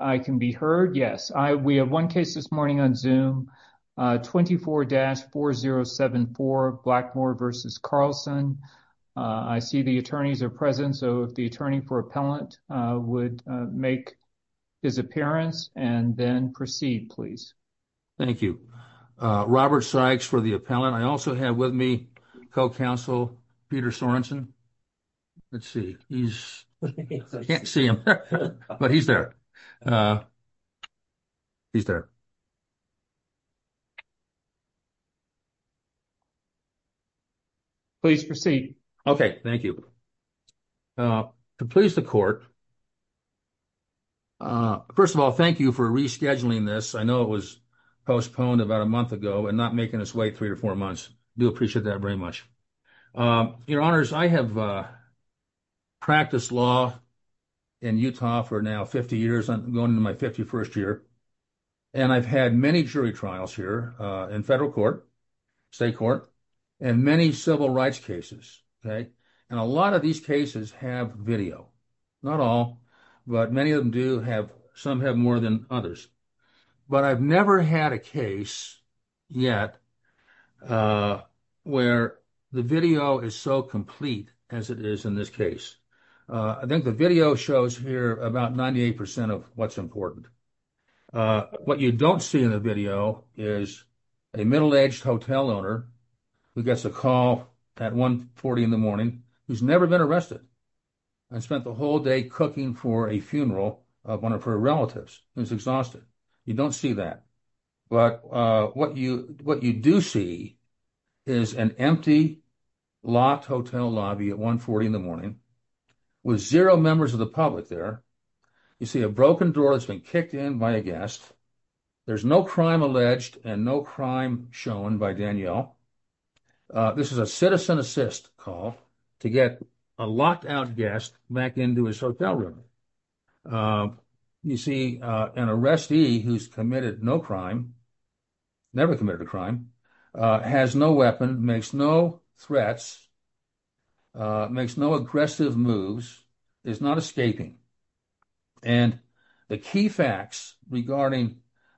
I see the attorneys are present so if the attorney for appellant would make his appearance and then proceed please thank you Robert Sykes for the appellant I also have with me co-counsel Peter Sorensen let's see he's I can't see him but he's there Please proceed okay thank you to please the court first of all thank you for rescheduling this I know it was postponed about a month ago and not making us wait three or four months do appreciate that very much your honors I have I've practiced law in Utah for now 50 years I'm going to my 51st year and I've had many jury trials here in federal court state court and many civil rights cases okay and a lot of these cases have video not all but many of them do have some have more than others but I've never had a case yet where the video is so complete as it is in this case I think the video shows here about 98% of what's important what you don't see in the video is a middle-aged hotel owner who gets a call at 140 in the morning who's never been arrested and spent the whole day cooking for a funeral of one of her relatives who's exhausted you don't see that but what you what you do see is an empty locked hotel lobby at 140 in the morning with zero members of the public there you see a broken door that's been kicked in by a guest there's no crime alleged and no crime shown by Danielle this is a citizen assist call to get a locked out guest back into his hotel room you see an arrestee who's committed no crime never committed a crime has no weapon makes no threats makes no aggressive moves is not escaping and the key facts regarding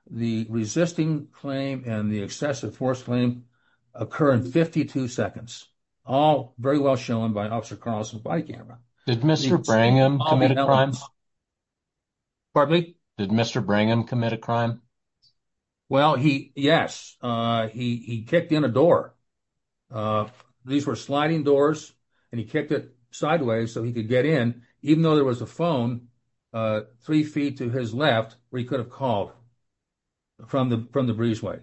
the resisting claim and the excessive force claim occur in 52 seconds all very well shown by officer Carlson by camera Did Mr. Brangham commit a crime? Pardon me? Did Mr. Brangham commit a crime? Well, he yes, he kicked in a door. These were sliding doors and he kicked it sideways so he could get in even though there was a phone three feet to his left where he could have called from the from the breezeway.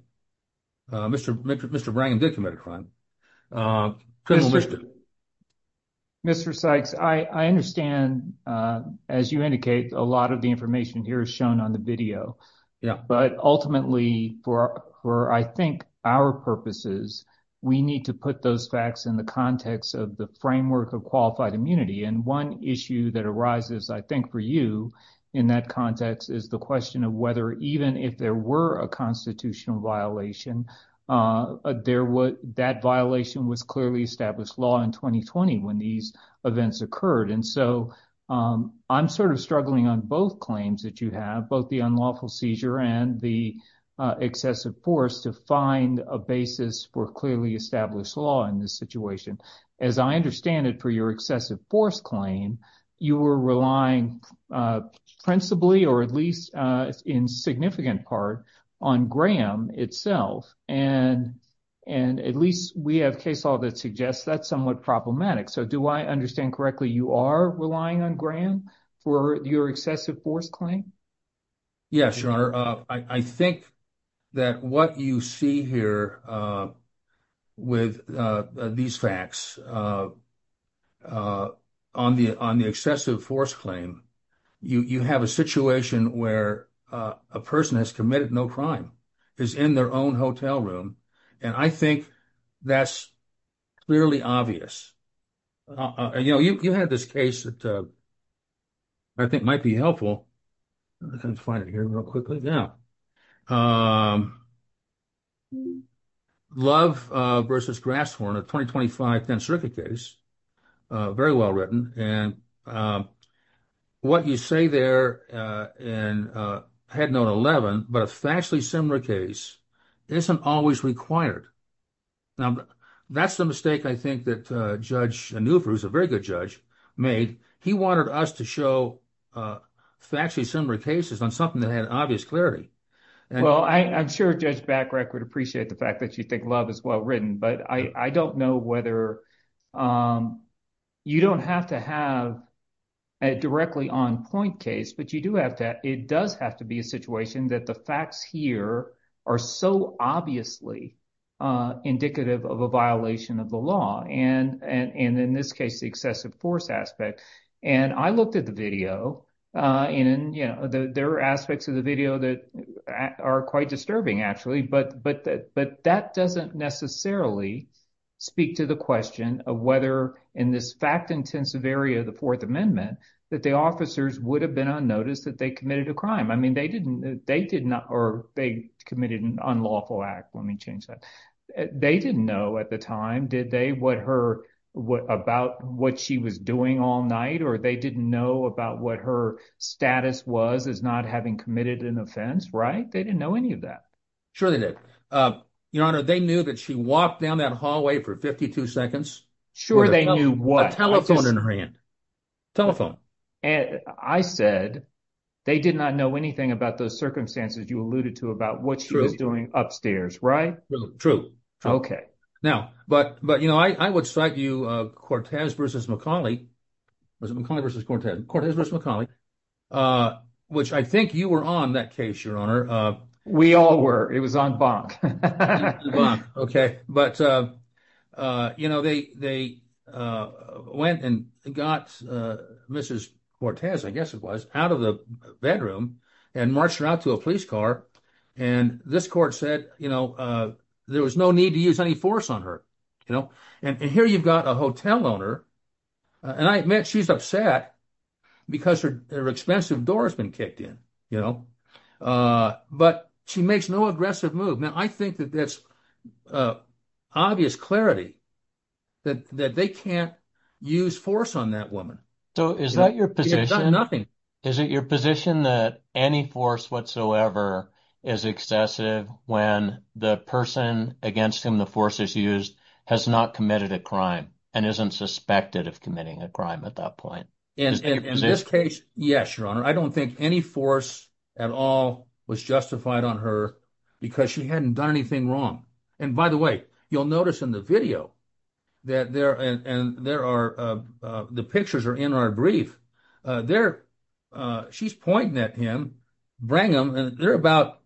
Mr. Mr. Mr. Brangham did commit a crime. Mr. Sykes, I understand, as you indicate, a lot of the information here is shown on the video. Yeah, but ultimately, for for I think our purposes, we need to put those facts in the context of the framework of qualified immunity and one issue that arises, I think, for you in that context is the question of whether even if there were a constitutional violation, there would that violation would be a constitutional violation. And I think that that violation was clearly established law in 2020 when these events occurred. And so I'm sort of struggling on both claims that you have both the unlawful seizure and the excessive force to find a basis for clearly established law in this situation. As I understand it, for your excessive force claim, you were relying principally, or at least in significant part on Graham itself. And and at least we have case law that suggests that's somewhat problematic. So do I understand correctly? You are relying on Graham for your excessive force claim? Yes, your honor, I think that what you see here with these facts on the on the excessive force claim, you have a situation where a person has committed no crime is in their own hotel room. And I think that's clearly obvious. You know, you had this case that I think might be helpful. I can find it here real quickly now. Love versus Grasshorn, a 2025 10th Circuit case, very well written. And what you say there, and I had known 11, but a factually similar case isn't always required. Now, that's the mistake I think that Judge Nuvru, who's a very good judge, made. He wanted us to show factually similar cases on something that had obvious clarity. Well, I'm sure Judge Backrek would appreciate the fact that you think Love is well written, but I don't know whether you don't have to have a directly on point case. But you do have to. It does have to be a situation that the facts here are so obviously indicative of a violation of the law. And in this case, the excessive force aspect, and I looked at the video and there are aspects of the video that are quite disturbing, actually. But that doesn't necessarily speak to the question of whether in this fact-intensive area of the Fourth Amendment that the officers would have been unnoticed that they committed a crime. I mean, they committed an unlawful act. Let me change that. They didn't know at the time, did they, about what she was doing all night, or they didn't know about what her status was as not having committed an offense, right? They didn't know any of that. Sure they did. Your Honor, they knew that she walked down that hallway for 52 seconds with a telephone in her hand. Telephone. I said they did not know anything about those circumstances you alluded to about what she was doing upstairs, right? But I would cite you, Cortez v. McCauley, which I think you were on that case, Your Honor. We all were. It was on Bonk. On Bonk, okay. But, you know, they went and got Mrs. Cortez, I guess it was, out of the bedroom and marched her out to a police car, and this court said, you know, there was no need to use any force on her, you know. And here you've got a hotel owner, and I admit she's upset because her expensive door has been kicked in, you know. But she makes no aggressive move. Now, I think that there's obvious clarity that they can't use force on that woman. So is that your position? Is it your position that any force whatsoever is excessive when the person against whom the force is used has not committed a crime and isn't suspected of committing a crime at that point? In this case, yes, Your Honor. I don't think any force at all was justified on her because she hadn't done anything wrong. And by the way, you'll notice in the video, and the pictures are in our brief, she's pointing at him, Brangham, and they're about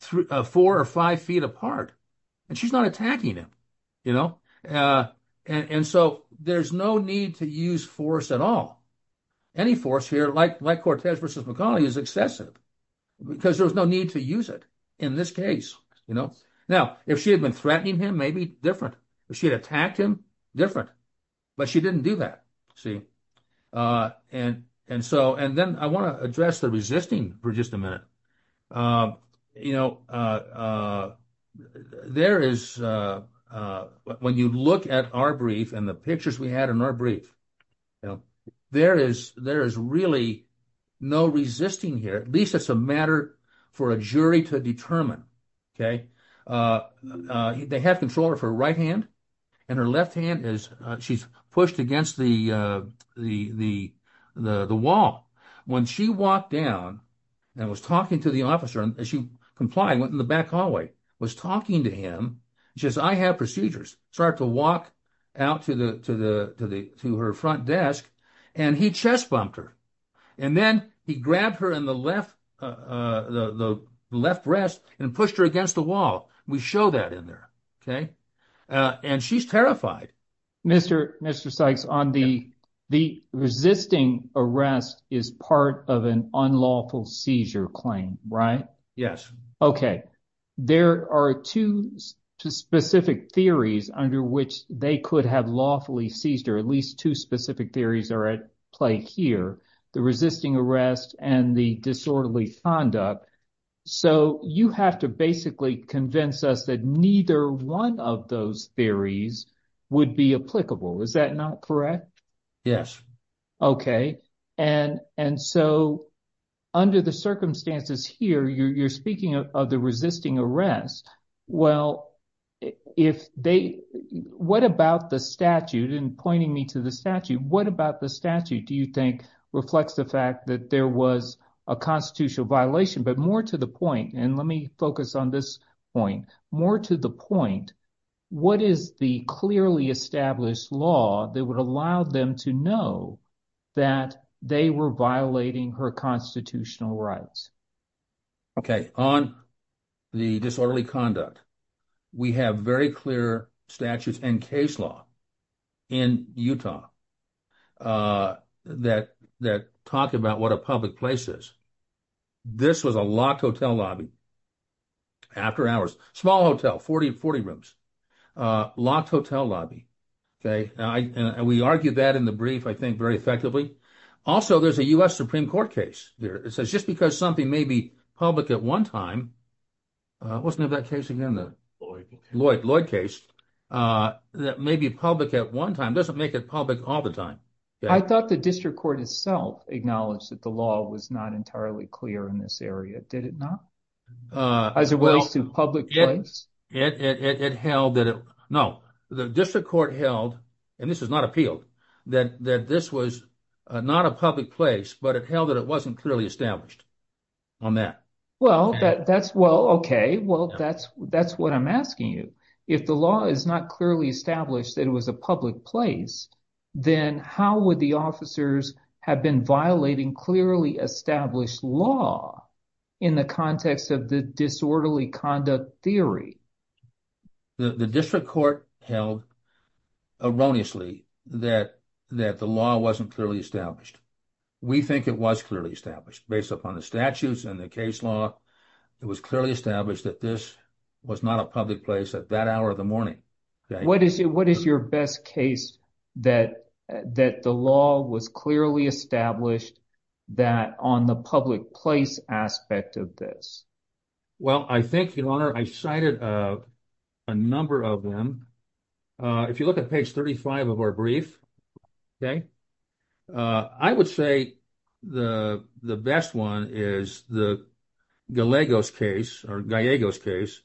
four or five feet apart, and she's not attacking him, you know. And so there's no need to use force at all. Any force here, like Cortez v. McConnelly, is excessive. Because there's no need to use it in this case, you know. Now, if she had been threatening him, maybe different. If she had attacked him, different. But she didn't do that, see. And so, and then I want to address the resisting for just a minute. You know, there is, when you look at our brief and the pictures we had in our brief, there is really no resisting here. At least it's a matter for a jury to determine, okay. They have control of her right hand, and her left hand is, she's pushed against the wall. When she walked down and was talking to the officer, and she complied, went in the back hallway, was talking to him, she says, I have procedures. Started to walk out to her front desk, and he chest bumped her. And then he grabbed her in the left, the left breast, and pushed her against the wall. We show that in there, okay. And she's terrified. Mr. Sykes, on the resisting arrest is part of an unlawful seizure claim, right? Yes. Okay. There are two specific theories under which they could have lawfully seized her. At least two specific theories are at play here. The resisting arrest and the disorderly conduct. So you have to basically convince us that neither one of those theories would be applicable. Is that not correct? And so under the circumstances here, you're speaking of the resisting arrest. Well, if they, what about the statute? And pointing me to the statute, what about the statute do you think reflects the fact that there was a constitutional violation? But more to the point, and let me focus on this point. More to the point, what is the clearly established law that would allow them to know that they were violating her constitutional rights? Okay. On the disorderly conduct, we have very clear statutes and case law in Utah that talk about what a public place is. This was a locked hotel lobby. After hours. Small hotel, 40 rooms. Locked hotel lobby. And we argued that in the brief, I think, very effectively. Also, there's a U.S. Supreme Court case. It says just because something may be public at one time, what's the name of that case again? Lloyd. Lloyd case. That may be public at one time doesn't make it public all the time. I thought the district court itself acknowledged that the law was not entirely clear in this area. Did it not? As it relates to public place? It held that it, no. The district court held, and this is not appealed, that this was not a public place, but it held that it wasn't clearly established on that. Well, that's, well, okay. Well, that's what I'm asking you. If the law is not clearly established that it was a public place, then how would the officers have been violating clearly established law in the context of the disorderly conduct theory? The district court held erroneously that the law wasn't clearly established. We think it was clearly established based upon the statutes and the case law. It was clearly established that this was not a public place at that hour of the morning. What is your best case that the law was clearly established that on the public place aspect of this? Well, I think, Your Honor, I cited a number of them. If you look at page 35 of our brief, okay, I would say the best one is the Gallegos case, or Gallegos case,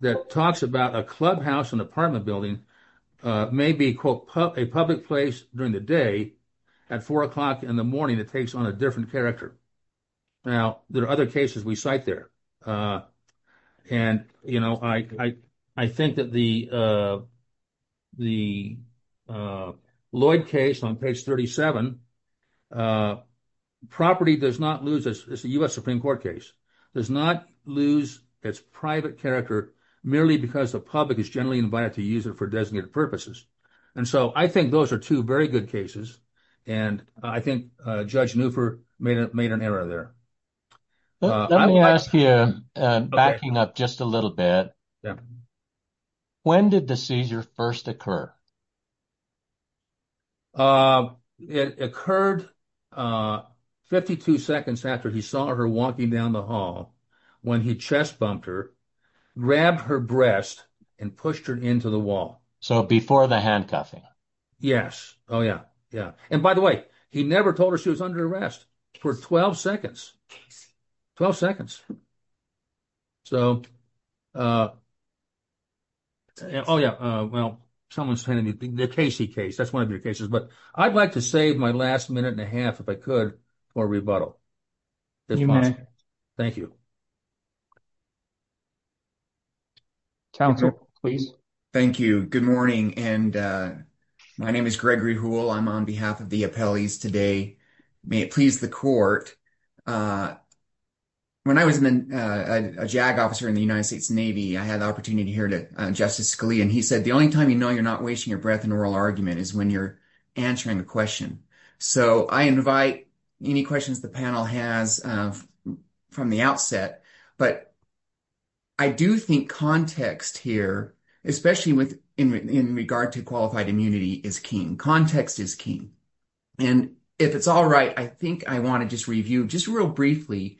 that talks about a clubhouse and apartment building may be, quote, a public place during the day at 4 o'clock in the morning that takes on a different character. Now, there are other cases we cite there. And, you know, I think that the Lloyd case on page 37, property does not lose, it's a U.S. Supreme Court case, does not lose its private character merely because the public is generally invited to use it for designated purposes. And so I think those are two very good cases. And I think Judge Newford made an error there. Let me ask you, backing up just a little bit, when did the seizure first occur? It occurred 52 seconds after he saw her walking down the hall, when he chest bumped her, grabbed her breast and pushed her into the wall. So before the handcuffing? Yes, oh, yeah, yeah. And by the way, he never told her she was under arrest for 12 seconds. 12 seconds. So, oh, yeah, well, someone's telling me the Casey case, that's one of your cases. But I'd like to save my last minute and a half, if I could, for rebuttal. You may. Thank you. Counsel, please. Thank you. Good morning. And my name is Gregory Houle. I'm on behalf of the appellees today. May it please the court. When I was a JAG officer in the United States Navy, I had the opportunity to hear Justice Scalia. And he said the only time you know you're not wasting your breath in an oral argument is when you're answering a question. So I invite any questions the panel has from the outset. But I do think context here, especially in regard to qualified immunity, is key. Context is key. And if it's all right, I think I want to just review just real briefly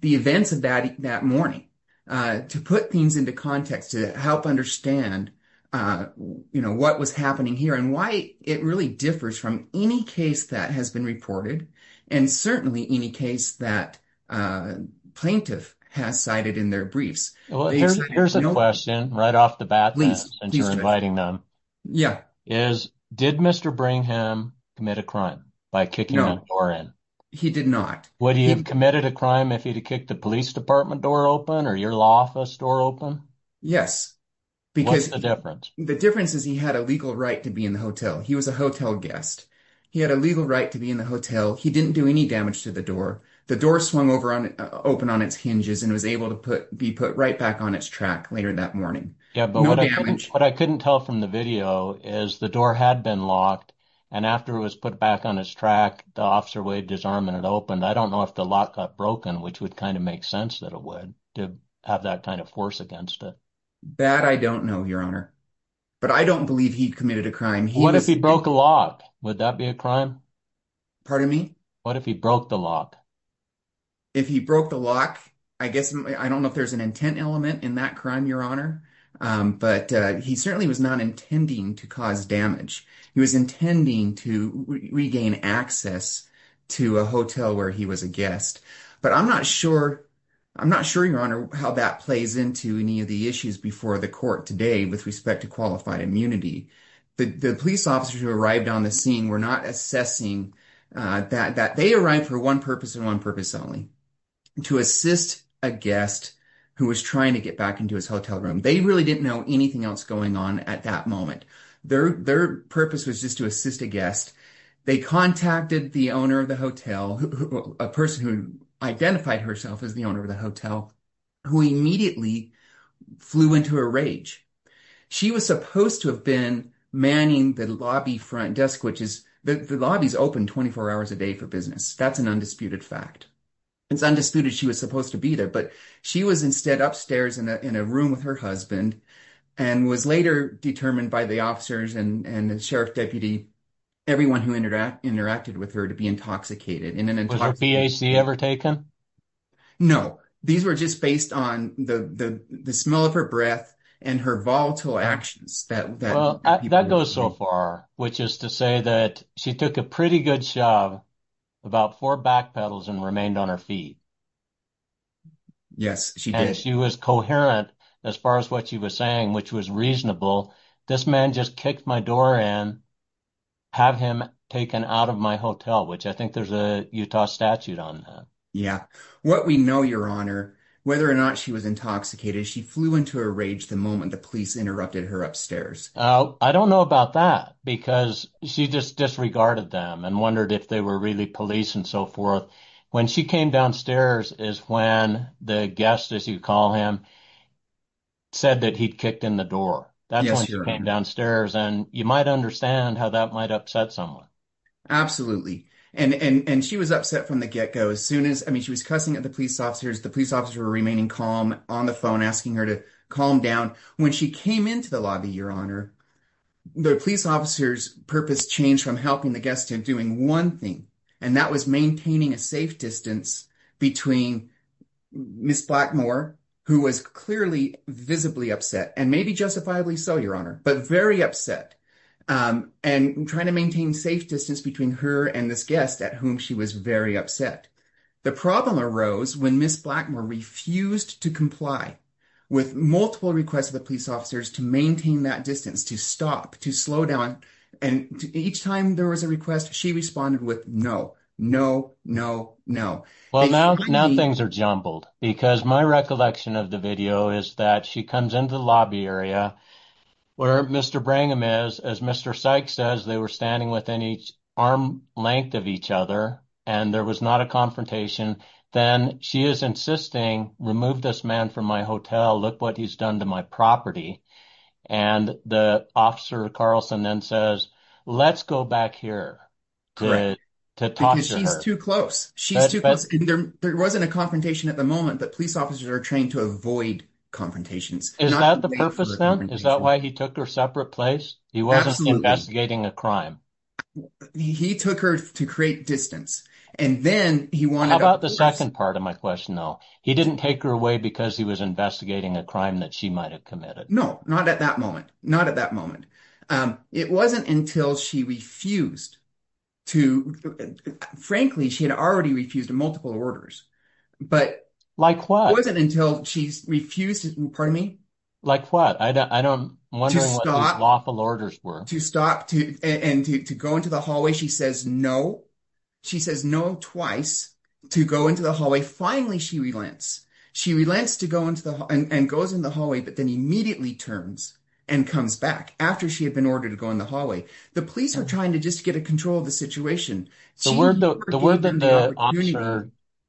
the events of that morning. To put things into context. To help understand, you know, what was happening here. And why it really differs from any case that has been reported. And certainly any case that a plaintiff has cited in their briefs. Here's a question, right off the bat, since you're inviting them. Yeah. Did Mr. Brigham commit a crime by kicking the door in? No, he did not. Would he have committed a crime if he'd have kicked the police department door open or your law office door open? Yes. What's the difference? The difference is he had a legal right to be in the hotel. He was a hotel guest. He had a legal right to be in the hotel. He didn't do any damage to the door. The door swung open on its hinges and was able to be put right back on its track later that morning. No damage. Yeah, but what I couldn't tell from the video is the door had been locked. And after it was put back on its track, the officer waved his arm and it opened. I don't know if the lock got broken, which would kind of make sense that it would. To have that kind of force against it. That I don't know, Your Honor. But I don't believe he committed a crime. What if he broke the lock? Would that be a crime? Pardon me? What if he broke the lock? If he broke the lock, I don't know if there's an intent element in that crime, Your Honor. But he certainly was not intending to cause damage. He was intending to regain access to a hotel where he was a guest. But I'm not sure, Your Honor, how that plays into any of the issues before the court today with respect to qualified immunity. The police officers who arrived on the scene were not assessing that they arrived for one purpose and one purpose only. To assist a guest who was trying to get back into his hotel room. They really didn't know anything else going on at that moment. Their purpose was just to assist a guest. They contacted the owner of the hotel. A person who identified herself as the owner of the hotel. Who immediately flew into a rage. She was supposed to have been manning the lobby front desk. The lobbies open 24 hours a day for business. That's an undisputed fact. It's undisputed she was supposed to be there. But she was instead upstairs in a room with her husband. And was later determined by the officers and the sheriff deputy. Everyone who interacted with her to be intoxicated. Was her PHD ever taken? No. These were just based on the smell of her breath and her volatile actions. That goes so far. Which is to say that she took a pretty good shove. About four backpedals and remained on her feet. Yes, she did. She was coherent as far as what she was saying. Which was reasonable. This man just kicked my door in. Have him taken out of my hotel. Which I think there's a Utah statute on that. What we know your honor. Whether or not she was intoxicated. She flew into a rage the moment the police interrupted her upstairs. I don't know about that. Because she just disregarded them. And wondered if they were really police and so forth. When she came downstairs. Is when the guest as you call him. Said that he kicked in the door. That's when she came downstairs. And you might understand how that might upset someone. Absolutely. And she was upset from the get go. As soon as she was cussing at the police officers. The police officers were remaining calm on the phone. Asking her to calm down. When she came into the lobby. Your honor. The police officers purpose changed from helping the guest. To doing one thing. And that was maintaining a safe distance. Between Ms. Blackmore. Who was clearly visibly upset. And maybe justifiably so your honor. But very upset. And trying to maintain safe distance. Between her and this guest. At whom she was very upset. The problem arose. When Ms. Blackmore refused to comply. With multiple requests of the police officers. To maintain that distance. To stop. To slow down. And each time there was a request. She responded with no. No, no, no. Well now things are jumbled. Because my recollection of the video. Is that she comes into the lobby area. Where Mr. Brangham is. As Mr. Sykes says. They were standing within arm length of each other. And there was not a confrontation. Then she is insisting. Remove this man from my hotel. Look what he's done to my property. And the officer. Carlson then says. Let's go back here. To talk to her. Because she's too close. There wasn't a confrontation at the moment. But police officers are trained to avoid confrontations. Is that the purpose then? Is that why he took her separate place? He wasn't investigating a crime. He took her to create distance. And then he wanted. How about the second part of my question though. He didn't take her away. Because he was investigating a crime. That she might have committed. No, not at that moment. It wasn't until she refused. Frankly she had already refused. Multiple orders. Like what? It wasn't until she refused. Like what? To stop. And to go into the hallway. She says no. She says no twice. To go into the hallway. Finally she relents. She relents and goes in the hallway. But then immediately turns. And comes back. After she had been ordered to go in the hallway. The police are trying to get control of the situation. The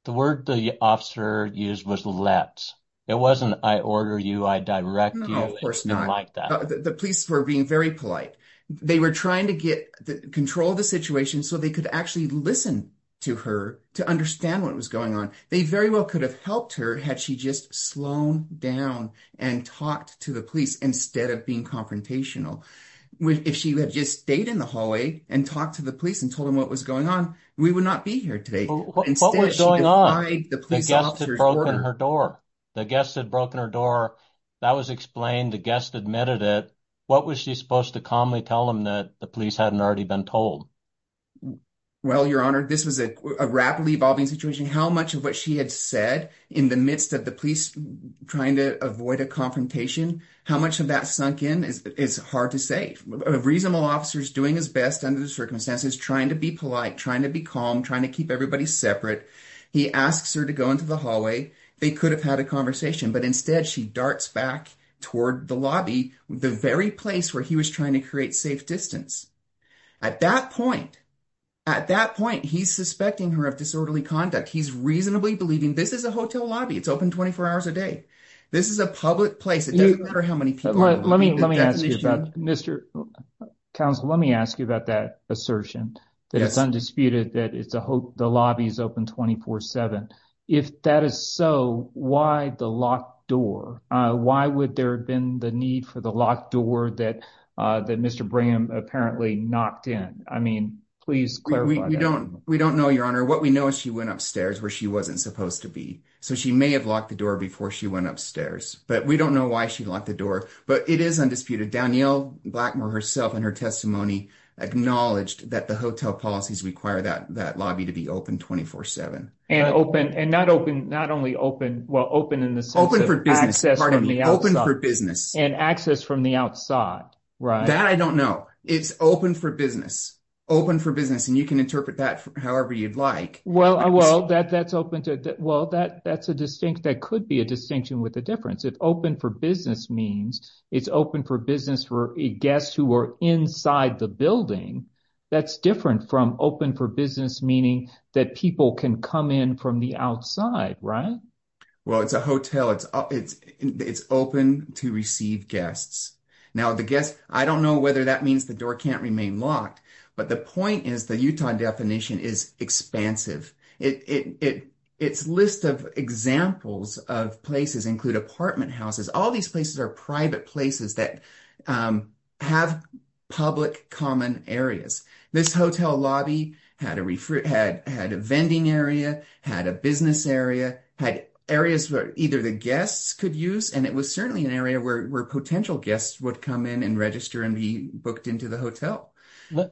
word the officer used was let. It wasn't I order you. I direct you. It wasn't like that. The police were being very polite. They were trying to get control of the situation. So they could actually listen to her. To understand what was going on. They very well could have helped her. Had she just slowed down. And talked to the police. Instead of being confrontational. If she had just stayed in the hallway. And talked to the police. And told them what was going on. We would not be here today. What was going on? The guest had broken her door. That was explained. The guest admitted it. What was she supposed to calmly tell them. That the police hadn't already been told. This was a rapidly evolving situation. How much of what she had said. In the midst of the police trying to avoid a confrontation. How much of that sunk in. Is hard to say. A reasonable officer is doing his best. Under the circumstances. Trying to be polite. Trying to be calm. Trying to keep everybody separate. He asks her to go into the hallway. They could have had a conversation. Instead she darts back toward the lobby. The very place where he was trying to create safe distance. At that point. At that point he is suspecting her of disorderly conduct. He is reasonably believing. This is a hotel lobby. It is open 24 hours a day. This is a public place. It doesn't matter how many people are there. Let me ask you about that assertion. That it is undisputed. That the lobby is open 24-7. If that is so. Why the locked door? Why would there have been the need for the locked door. That Mr. Braham apparently knocked in. I mean. We don't know your honor. What we know is she went upstairs. Where she wasn't supposed to be. She may have locked the door before she went upstairs. We don't know why she locked the door. It is undisputed. Danielle Blackmore herself in her testimony. Acknowledged that the hotel policies. Require that lobby to be open 24-7. And open. Not only open. Open for business. And access from the outside. That I don't know. It is open for business. Open for business. You can interpret that however you like. That could be a distinction. With a difference. If open for business means. It is open for business for guests. Who are inside the building. That is different from open for business. Meaning that people can come in. From the outside. Right? It is a hotel. It is open to receive guests. I don't know whether that means. The door can't remain locked. But the point is. The Utah definition is expansive. It's list of examples. Of places. Including apartment houses. All of these places are private places. That have public common areas. This hotel lobby. Had a vending area. Had a business area. Had areas where. Either the guests could use. It was certainly an area where potential guests. Would come in and register. And be booked into the hotel.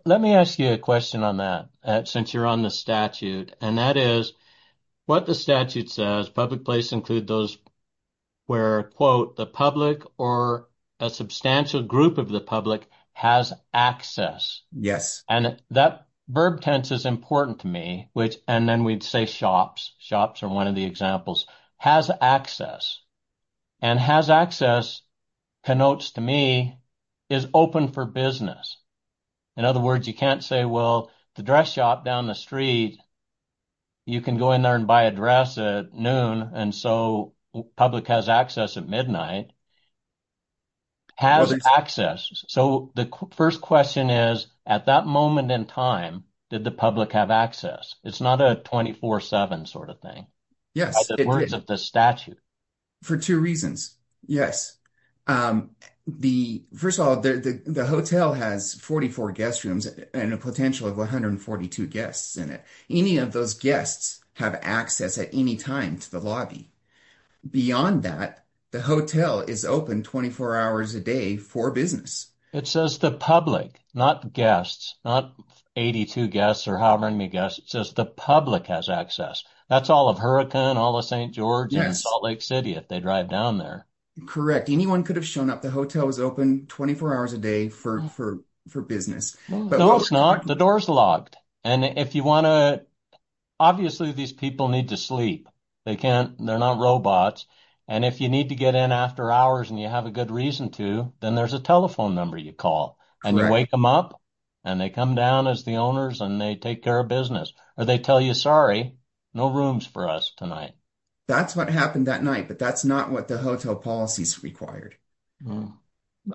Let me ask you a question on that. Since you are on the statute. What the statute says. Public places include those. Where the public. Or a substantial group of the public. Has access. That verb tense is important to me. Then we would say shops. Shops are one of the examples. Has access. And has access. Connotes to me. Is open for business. In other words you can't say. The dress shop down the street. You can go in there and buy a dress. At noon and so. Public has access at midnight. Has access. So the first question is. At that moment in time. Did the public have access. It's not a 24-7 sort of thing. By the words of the statute. For two reasons. First of all. The hotel has 44 guest rooms. And a potential of 142 guests in it. Any of those guests. Have access at any time to the lobby. Beyond that. The hotel is open 24 hours a day. For business. It says the public. Not guests. Not 82 guests or however many guests. It says the public has access. That's all of Huracan. All of St. George. Salt Lake City. If they drive down there. Correct. Anyone could have shown up. The hotel is open 24 hours a day. For business. No it's not. The door is locked. Obviously these people need to sleep. They're not robots. And if you need to get in after hours. And you have a good reason to. Then there's a telephone number you call. And you wake them up. And they come down as the owners. And they take care of business. Or they tell you sorry. No rooms for us tonight. That's what happened that night. But that's not what the hotel policies required.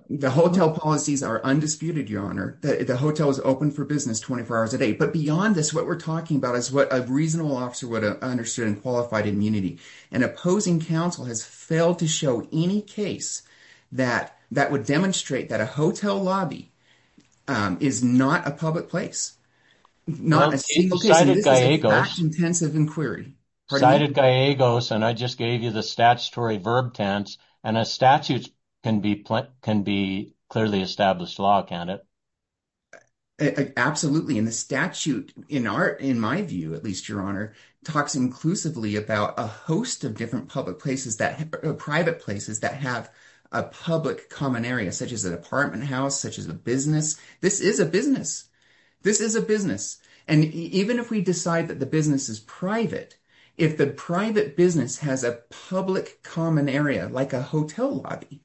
The hotel policies are undisputed your honor. The hotel is open for business 24 hours a day. But beyond this what we're talking about. Is what a reasonable officer would have understood. In qualified immunity. An opposing counsel has failed. To show any case. That would demonstrate. That a hotel lobby. Is not a public place. Not a single case. This is a fact intensive inquiry. I just gave you the statutory verb tense. And a statute. Can be clearly established law. Can't it? Absolutely. And the statute. In my view at least your honor. Talks inclusively about. A host of different public places. Private places. That have a public common area. Such as an apartment house. Such as a business. This is a business. This is a business. And even if we decide that the business is private. If the private business has a public common area. Like a hotel lobby.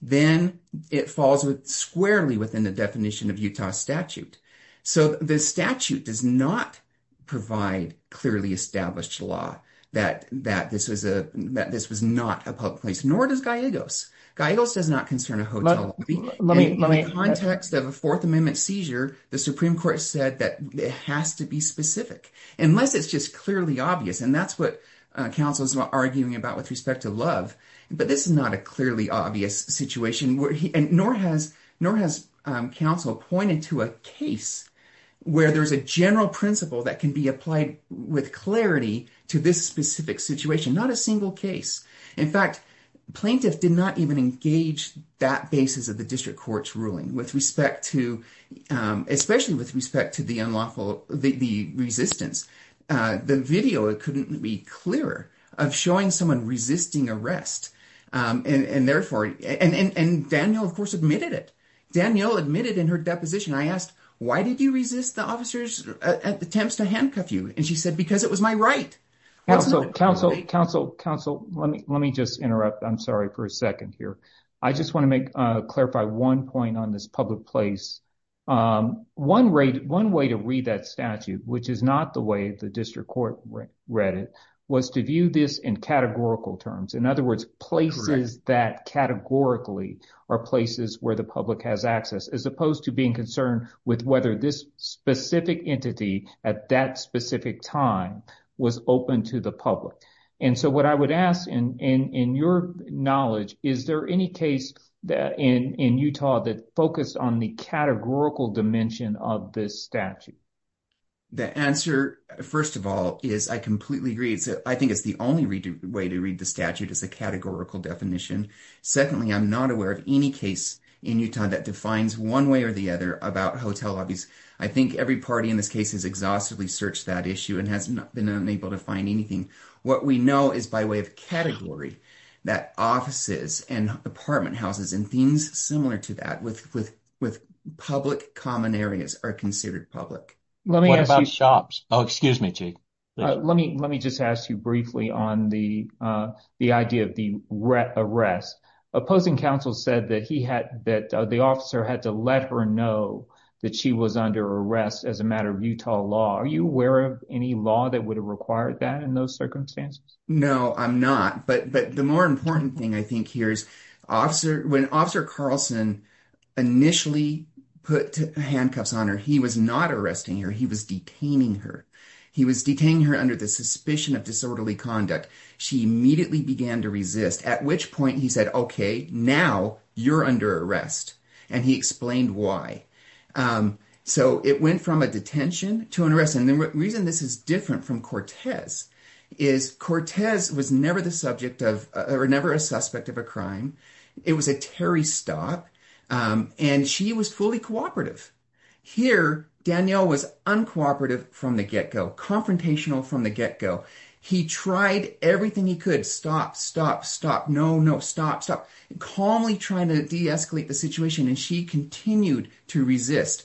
Then it falls squarely. Within the definition of Utah statute. So the statute. Does not provide. Clearly established law. That this was not a public place. Nor does Gallegos. Gallegos does not concern a hotel lobby. In the context of a fourth amendment seizure. The supreme court said. That it has to be specific. Unless it's just clearly obvious. And that's what counsel is arguing about. With respect to love. But this is not a clearly obvious situation. Nor has counsel. Pointed to a case. Where there's a general principle. That can be applied with clarity. To this specific situation. Not a single case. In fact plaintiff did not even engage. That basis of the district courts ruling. With respect to. Especially with respect to the unlawful. The resistance. The video couldn't be clearer. Of showing someone resisting arrest. And therefore. And Daniel of course admitted it. Daniel admitted in her deposition. I asked why did you resist the officers. Attempts to handcuff you. And she said because it was my right. Counsel. Let me just interrupt. I'm sorry for a second here. I just want to clarify one point. On this public place. One way to read that statute. Which is not the way. The district court read it. Was to view this in categorical terms. In other words. Places that categorically. Are places where the public has access. As opposed to being concerned. With whether this specific entity. At that specific time. Was open to the public. And so what I would ask. In your knowledge. Is there any case in Utah. That focused on the categorical. Dimension of this statute. The answer. First of all. Is I completely agree. I think it's the only way to read the statute. As a categorical definition. Secondly I'm not aware of any case. In Utah that defines one way or the other. About hotel lobbies. I think every party in this case. Has exhaustively searched that issue. And has been unable to find anything. What we know is by way of category. That offices and apartment houses. And things similar to that. With public common areas. Are considered public. What about shops? Let me just ask you briefly. On the idea of the arrest. Opposing counsel said. That the officer had to let her know. That she was under arrest. As a matter of Utah law. Are you aware of any law. That would have required that. In those circumstances. No I'm not. But the more important thing. I think here is. When officer Carlson. Initially put handcuffs on her. He was not arresting her. He was detaining her. Under the suspicion of disorderly conduct. She immediately began to resist. At which point he said. Now you are under arrest. And he explained why. So it went from a detention. To an arrest. And the reason this is different from Cortez. Is Cortez was never the subject. Or never a suspect of a crime. It was a Terry stop. And she was fully cooperative. Here Danielle. Danielle was uncooperative from the get-go. Confrontational from the get-go. He tried everything he could. Stop, stop, stop. Calmly trying to de-escalate the situation. And she continued to resist.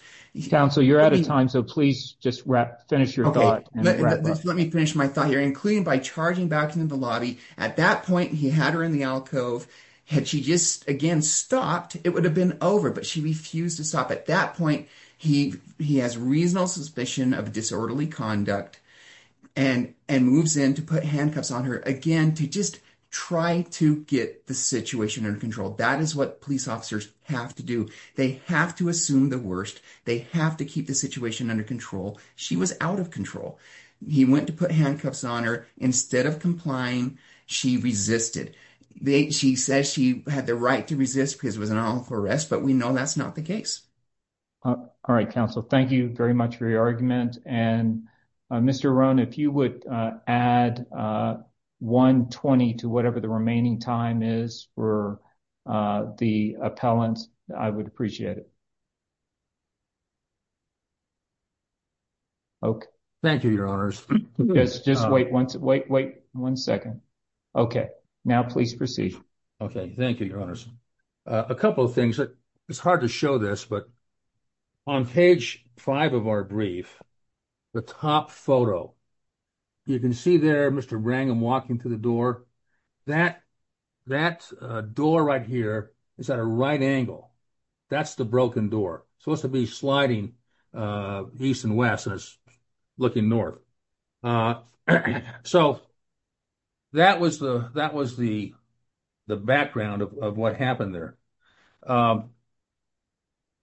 Counsel you are out of time. So please just finish your thought. Let me finish my thought here. Including by charging back into the lobby. At that point he had her in the alcove. Had she just again stopped. It would have been over. But she refused to stop. At that point he has reasonable suspicion. Of disorderly conduct. And moves in to put handcuffs on her. Again to just try to get the situation under control. That is what police officers have to do. They have to assume the worst. They have to keep the situation under control. She was out of control. He went to put handcuffs on her. Instead of complying. She resisted. She says she had the right to resist. Because it was an unlawful arrest. But we know that is not the case. All right counsel. Thank you very much for your argument. Mr. Rohn if you would add 1.20 to whatever the remaining time is. For the appellant. I would appreciate it. Okay. Thank you your honors. Just wait one second. Okay. Now please proceed. Okay. Thank you your honors. A couple of things. It is hard to show this. On page 5 of our brief. The top photo. You can see there. Mr. Brangham walking to the door. That door right here. Is at a right angle. That is the broken door. Supposed to be sliding. East and west. Looking north. So. That was the. Background of what happened there.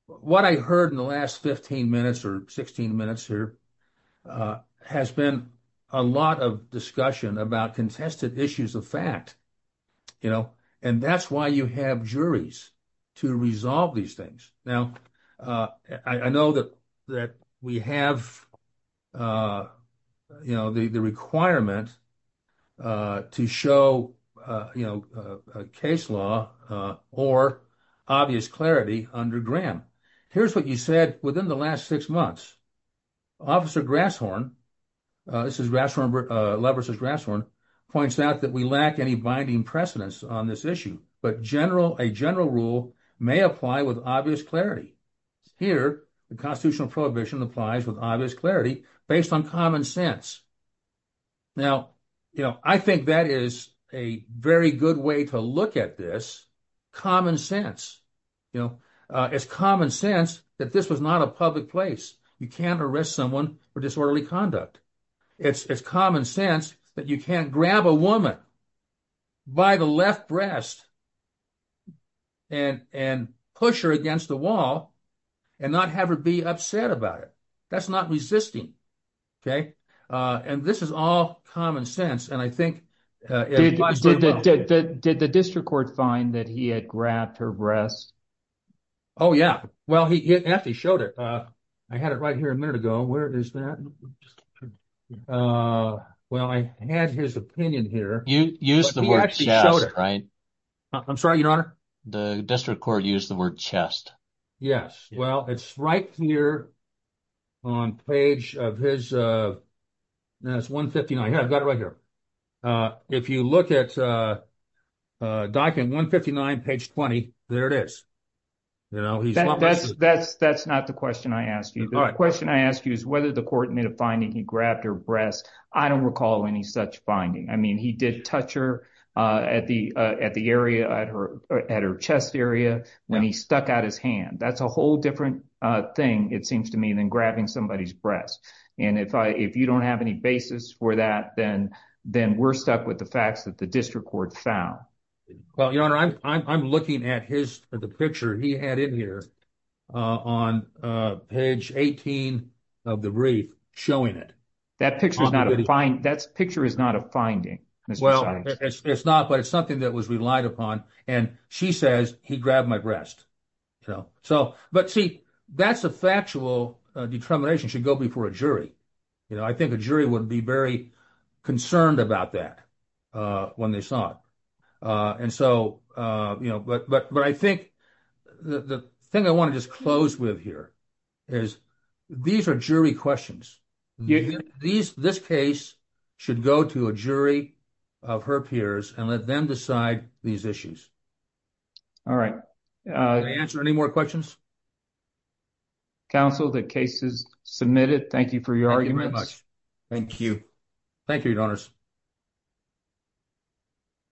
What I heard in the last 15 minutes. Or 16 minutes here. Has been a lot of discussion. About contested issues of fact. You know. And that is why you have juries. To resolve these things. Now. I know that we have. You know. The requirement. To show. You know. Case law. Or obvious clarity. Under Graham. Here is what you said. Within the last six months. Officer Grasshorn. This is Leverson Grasshorn. Points out that we lack any binding precedence. On this issue. But a general rule. May apply with obvious clarity. Here the constitutional prohibition. Applies with obvious clarity. Based on common sense. Now you know. I think that is a very good way. To look at this. Common sense. You know. It is common sense. That this was not a public place. You cannot arrest someone. For disorderly conduct. It is common sense. That you cannot grab a woman. By the left breast. And push her against the wall. And not have her be upset about it. That is not resisting. And this is all common sense. And I think. Did the district court find. That he had grabbed her breast. Oh yeah. He actually showed it. I had it right here a minute ago. Where is that? Well I had his opinion here. You used the word chest. I am sorry your honor. The district court used the word chest. Yes. It is right here. On page of his. That is 159. I have it right here. If you look at. Document 159 page 20. There it is. That is not the question I asked you. The question I asked you. Is whether the court made a finding. He grabbed her breast. I don't recall any such finding. He did touch her at the area. At her chest area. When he stuck out his hand. That is a whole different thing. It seems to me. Than grabbing somebody's breast. If you don't have any basis for that. Then we are stuck with the facts. That the district court found. Your honor. I am looking at the picture he had in here. On page 18. Of the brief. Showing it. That picture is not a finding. It is not. But it is something that was relied upon. She says he grabbed my breast. But see. That is a factual determination. It should go before a jury. I think a jury would be very. Concerned about that. When they saw it. But I think. The thing I want to just close with here. Is. These are jury questions. This case. Should go to a jury. Of her peers. And let them decide these issues. All right. Can I answer any more questions? Counsel. The case is submitted. Thank you for your arguments. Thank you. Thank you your honors.